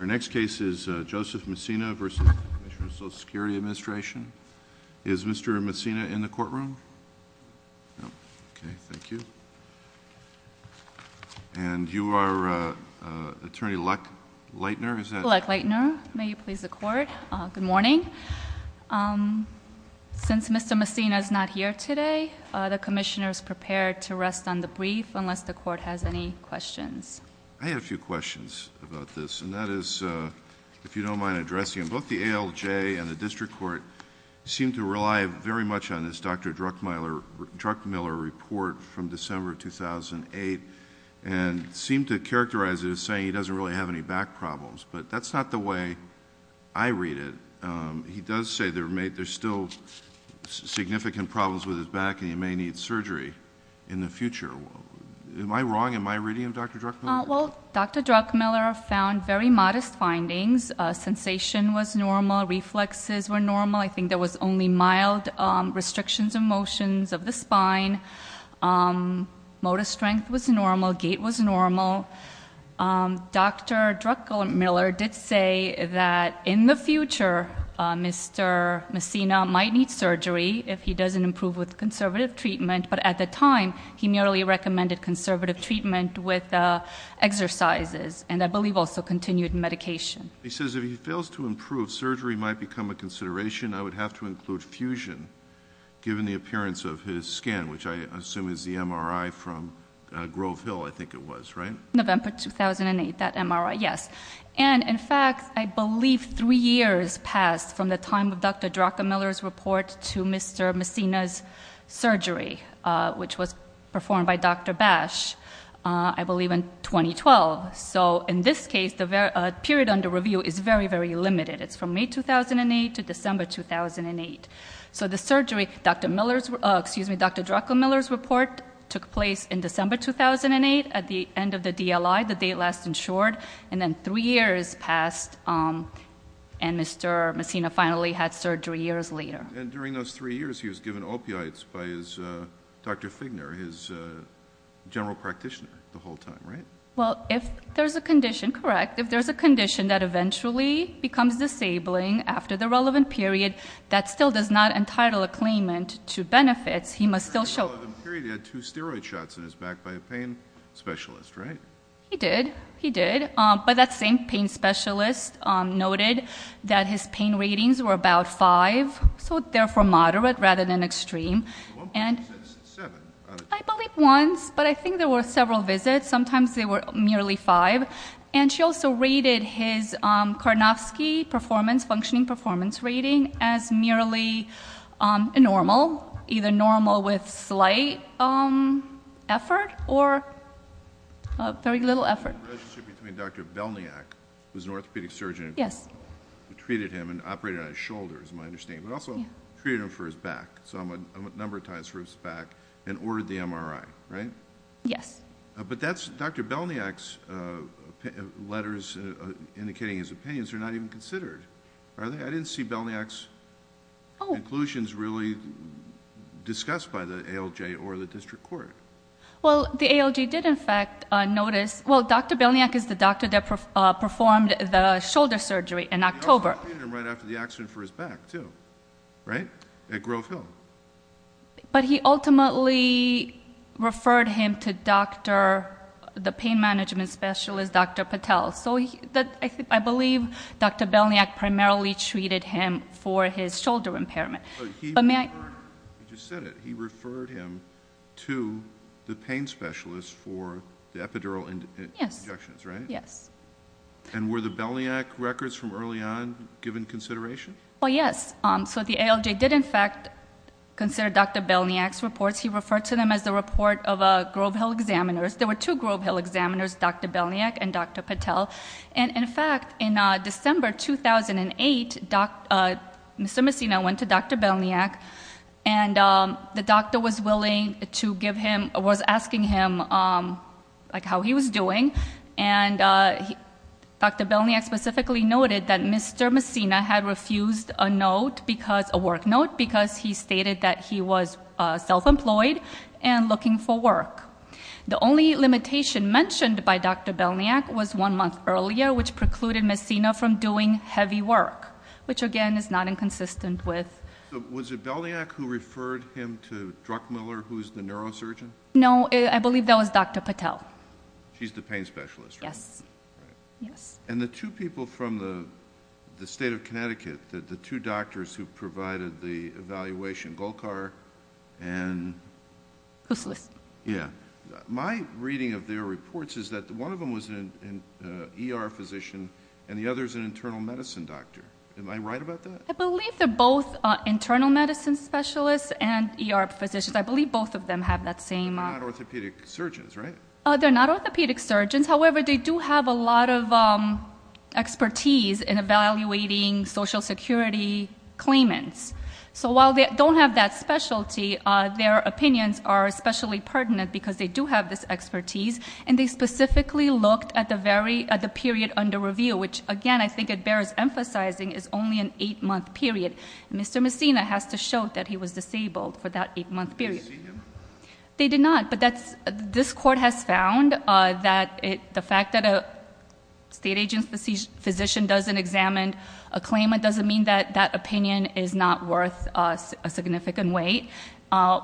Our next case is Joseph Messina v. Commissioner of Social Security Administration. Is Mr. Messina in the courtroom? Okay, thank you. And you are Attorney Lech Leitner? Lech Leitner, may you please the court? Good morning. Since Mr. Messina is not here today, the Commissioner is prepared to rest on the brief unless the court has any questions. I have a few questions about this, and that is, if you don't mind addressing them. Both the ALJ and the District Court seem to rely very much on this Dr. Druckmiller report from December 2008 and seem to characterize it as saying he doesn't really have any back problems, but that's not the way I read it. He does say there's still significant problems with his back and he may need surgery in the future. Am I wrong? Am I reading him, Dr. Druckmiller? Well, Dr. Druckmiller found very modest findings. Sensation was normal. Reflexes were normal. I think there was only mild restrictions of motions of the spine. Motor strength was normal. Gait was normal. Dr. Druckmiller did say that in the future Mr. Messina might need surgery if he doesn't improve with conservative treatment, but at the time he merely recommended conservative treatment with exercises and I believe also continued medication. He says if he fails to improve, surgery might become a consideration. I would have to include fusion given the appearance of his skin, which I assume is the MRI from Grove Hill, I think it was, right? November 2008, that MRI, yes. And in fact, I believe three years passed from the time of Dr. Druckmiller's report to Mr. Messina's which was performed by Dr. Bash, I believe in 2012. So in this case, the period under review is very, very limited. It's from May 2008 to December 2008. So the surgery, Dr. Miller's, excuse me, Dr. Druckmiller's report took place in December 2008 at the end of the DLI, the date last insured, and then three years passed and Mr. Messina finally had surgery years later. And during those three years, he was given opioids by his Dr. Figner, his general practitioner, the whole time, right? Well, if there's a condition, correct, if there's a condition that eventually becomes disabling after the relevant period, that still does not entitle a claimant to benefits, he must still show- During the relevant period, he had two steroid shots in his back by a pain specialist, right? He did, he did. But that same pain specialist noted that his pain ratings were about five, so therefore moderate rather than extreme. One point six, seven. I believe once, but I think there were several visits. Sometimes they were merely five. And she also rated his Karnofsky performance, functioning performance rating, as merely normal, either normal with slight effort or very little effort. The relationship between Dr. Belniak, who's an orthopedic surgeon, who treated him and operated on his shoulders, as I understand, but also treated him for his back, so a number of times for his back, and ordered the MRI, right? Yes. But that's Dr. Belniak's letters indicating his opinions are not even considered, are they? I didn't see Belniak's conclusions really discussed by the ALJ or the district court. Well, the ALJ did in fact notice, well, Dr. Belniak is the doctor that performed the shoulder surgery in October. He operated on him right after the accident for his back, too, right? At Grove Hill. But he ultimately referred him to the pain management specialist, Dr. Patel. So I believe Dr. Belniak primarily treated him for his shoulder impairment. But may I- You just said it. He referred him to the pain specialist for the epidural injections, right? Yes. And were the Belniak records from early on given consideration? Well, yes. So the ALJ did in fact consider Dr. Belniak's reports. He referred to them as the report of Grove Hill examiners. There were two Grove Hill examiners, Dr. Belniak and Dr. Patel. And in fact, in December 2008, Mr. Messina went to Dr. Belniak, and the doctor was asking him how he was doing. And Dr. Belniak specifically noted that Mr. Messina had refused a note because- a work note- because he stated that he was self-employed and looking for work. The only limitation mentioned by Dr. Belniak was one month earlier, which precluded Messina from doing heavy work, which again is not inconsistent with- So was it Belniak who referred him to Druckmiller, who's the neurosurgeon? No, I believe that was Dr. Patel. She's the pain specialist, right? Yes, yes. And the two people from the state of Connecticut, the two doctors who provided the evaluation, Golkar and- Husslis. Yeah. My reading of their reports is that one of them was an ER physician, and the other's an internal medicine doctor. Am I right about that? I believe they're both internal medicine specialists and ER physicians. I believe both of them have that same- They're not orthopedic surgeons, right? They're not orthopedic surgeons. However, they do have a lot of expertise in evaluating social security claimants. So while they don't have that specialty, their opinions are especially pertinent because they do have this expertise. And they specifically looked at the period under review, which again, I think it bears emphasizing, is only an eight month period. Mr. Messina has to show that he was disabled for that eight month period. Did you see him? They did not, but this court has found that the fact that a state agent's physician doesn't examine a claimant, doesn't mean that that opinion is not worth a significant weight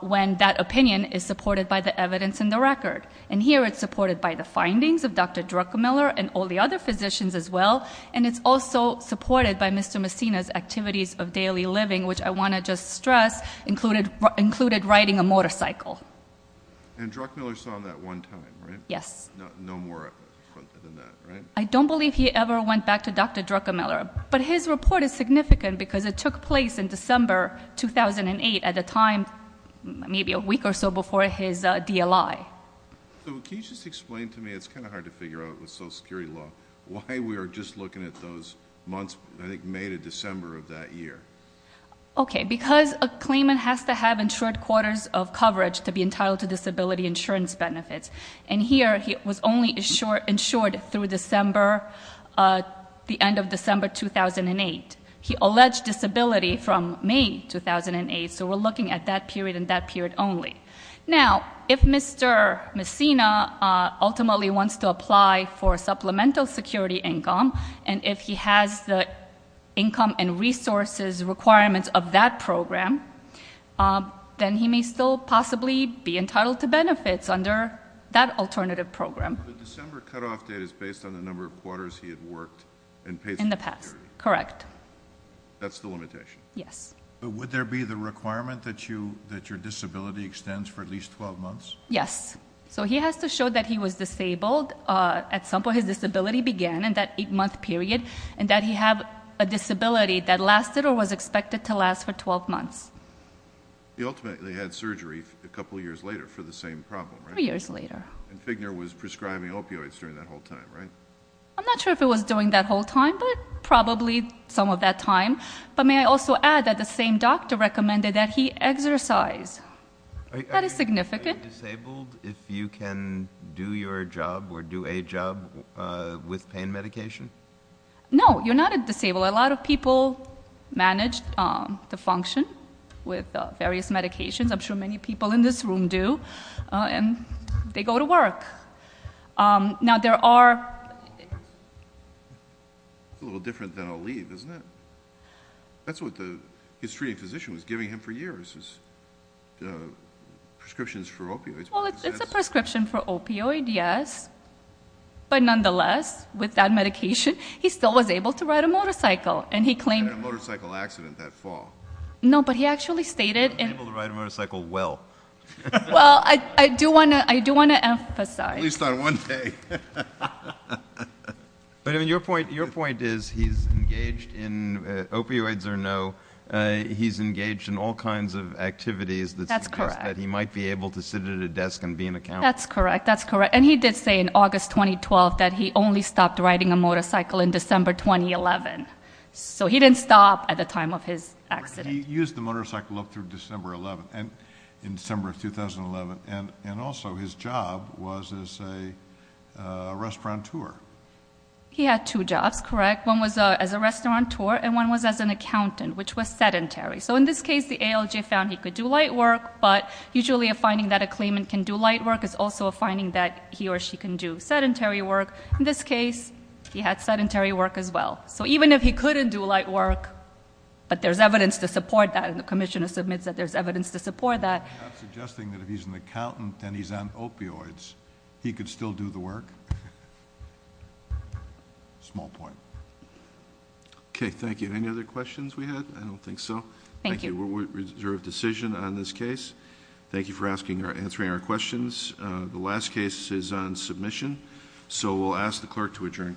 when that opinion is supported by the evidence in the record. And here it's supported by the findings of Dr. Drucker-Miller and all the other physicians as well. And it's also supported by Mr. Messina's activities of daily living, which I want to just stress, included riding a motorcycle. And Drucker-Miller saw that one time, right? Yes. No more than that, right? I don't believe he ever went back to Dr. Drucker-Miller. But his report is significant because it took place in December 2008 at the time, maybe a week or so before his DLI. So can you just explain to me, it's kind of hard to figure out with social security law, why we are just looking at those months, I think May to December of that year. Okay, because a claimant has to have insured quarters of coverage to be entitled to disability insurance benefits. And here, he was only insured through December, the end of December 2008. He alleged disability from May 2008, so we're looking at that period and that period only. Now, if Mr. Messina ultimately wants to apply for supplemental security income, and if he has the income and resources requirements of that program, then he may still possibly be entitled to benefits under that alternative program. The December cutoff date is based on the number of quarters he had worked and paid for security. In the past, correct. That's the limitation? Yes. But would there be the requirement that your disability extends for at least 12 months? Yes. So he has to show that he was disabled at some point. His disability began in that eight month period, and that he had a disability that lasted or was expected to last for 12 months. He ultimately had surgery a couple years later for the same problem, right? Three years later. And Figner was prescribing opioids during that whole time, right? I'm not sure if it was during that whole time, but probably some of that time. But may I also add that the same doctor recommended that he exercise. That is significant. Are you disabled if you can do your job or do a job with pain medication? No, you're not a disabled. A lot of people manage the function with various medications. I'm sure many people in this room do, and they go to work. Now, there are. A little different than a leave, isn't it? That's what his treating physician was giving him for years, was prescriptions for opioids. Well, it's a prescription for opioid, yes. But nonetheless, with that medication, he still was able to ride a motorcycle. And he claimed- He had a motorcycle accident that fall. No, but he actually stated- He was able to ride a motorcycle well. Well, I do want to emphasize- But I mean, your point is he's engaged in, opioids or no, he's engaged in all kinds of activities- That's correct. That he might be able to sit at a desk and be an accountant. That's correct. That's correct. And he did say in August 2012 that he only stopped riding a motorcycle in December 2011. So he didn't stop at the time of his accident. He used the motorcycle up through December 11th, in December of 2011. And also, his job was as a restaurateur. He had two jobs, correct? One was as a restaurateur, and one was as an accountant, which was sedentary. So in this case, the ALJ found he could do light work, but usually a finding that a claimant can do light work is also a finding that he or she can do sedentary work. In this case, he had sedentary work as well. So even if he couldn't do light work, but there's evidence to support that, and the commissioner submits that there's evidence to support that- I'm not suggesting that if he's an accountant and he's on opioids, he could still do the work. Small point. Okay, thank you. Any other questions we had? I don't think so. Thank you. We'll reserve decision on this case. Thank you for answering our questions. The last case is on submission. So we'll ask the clerk to adjourn court.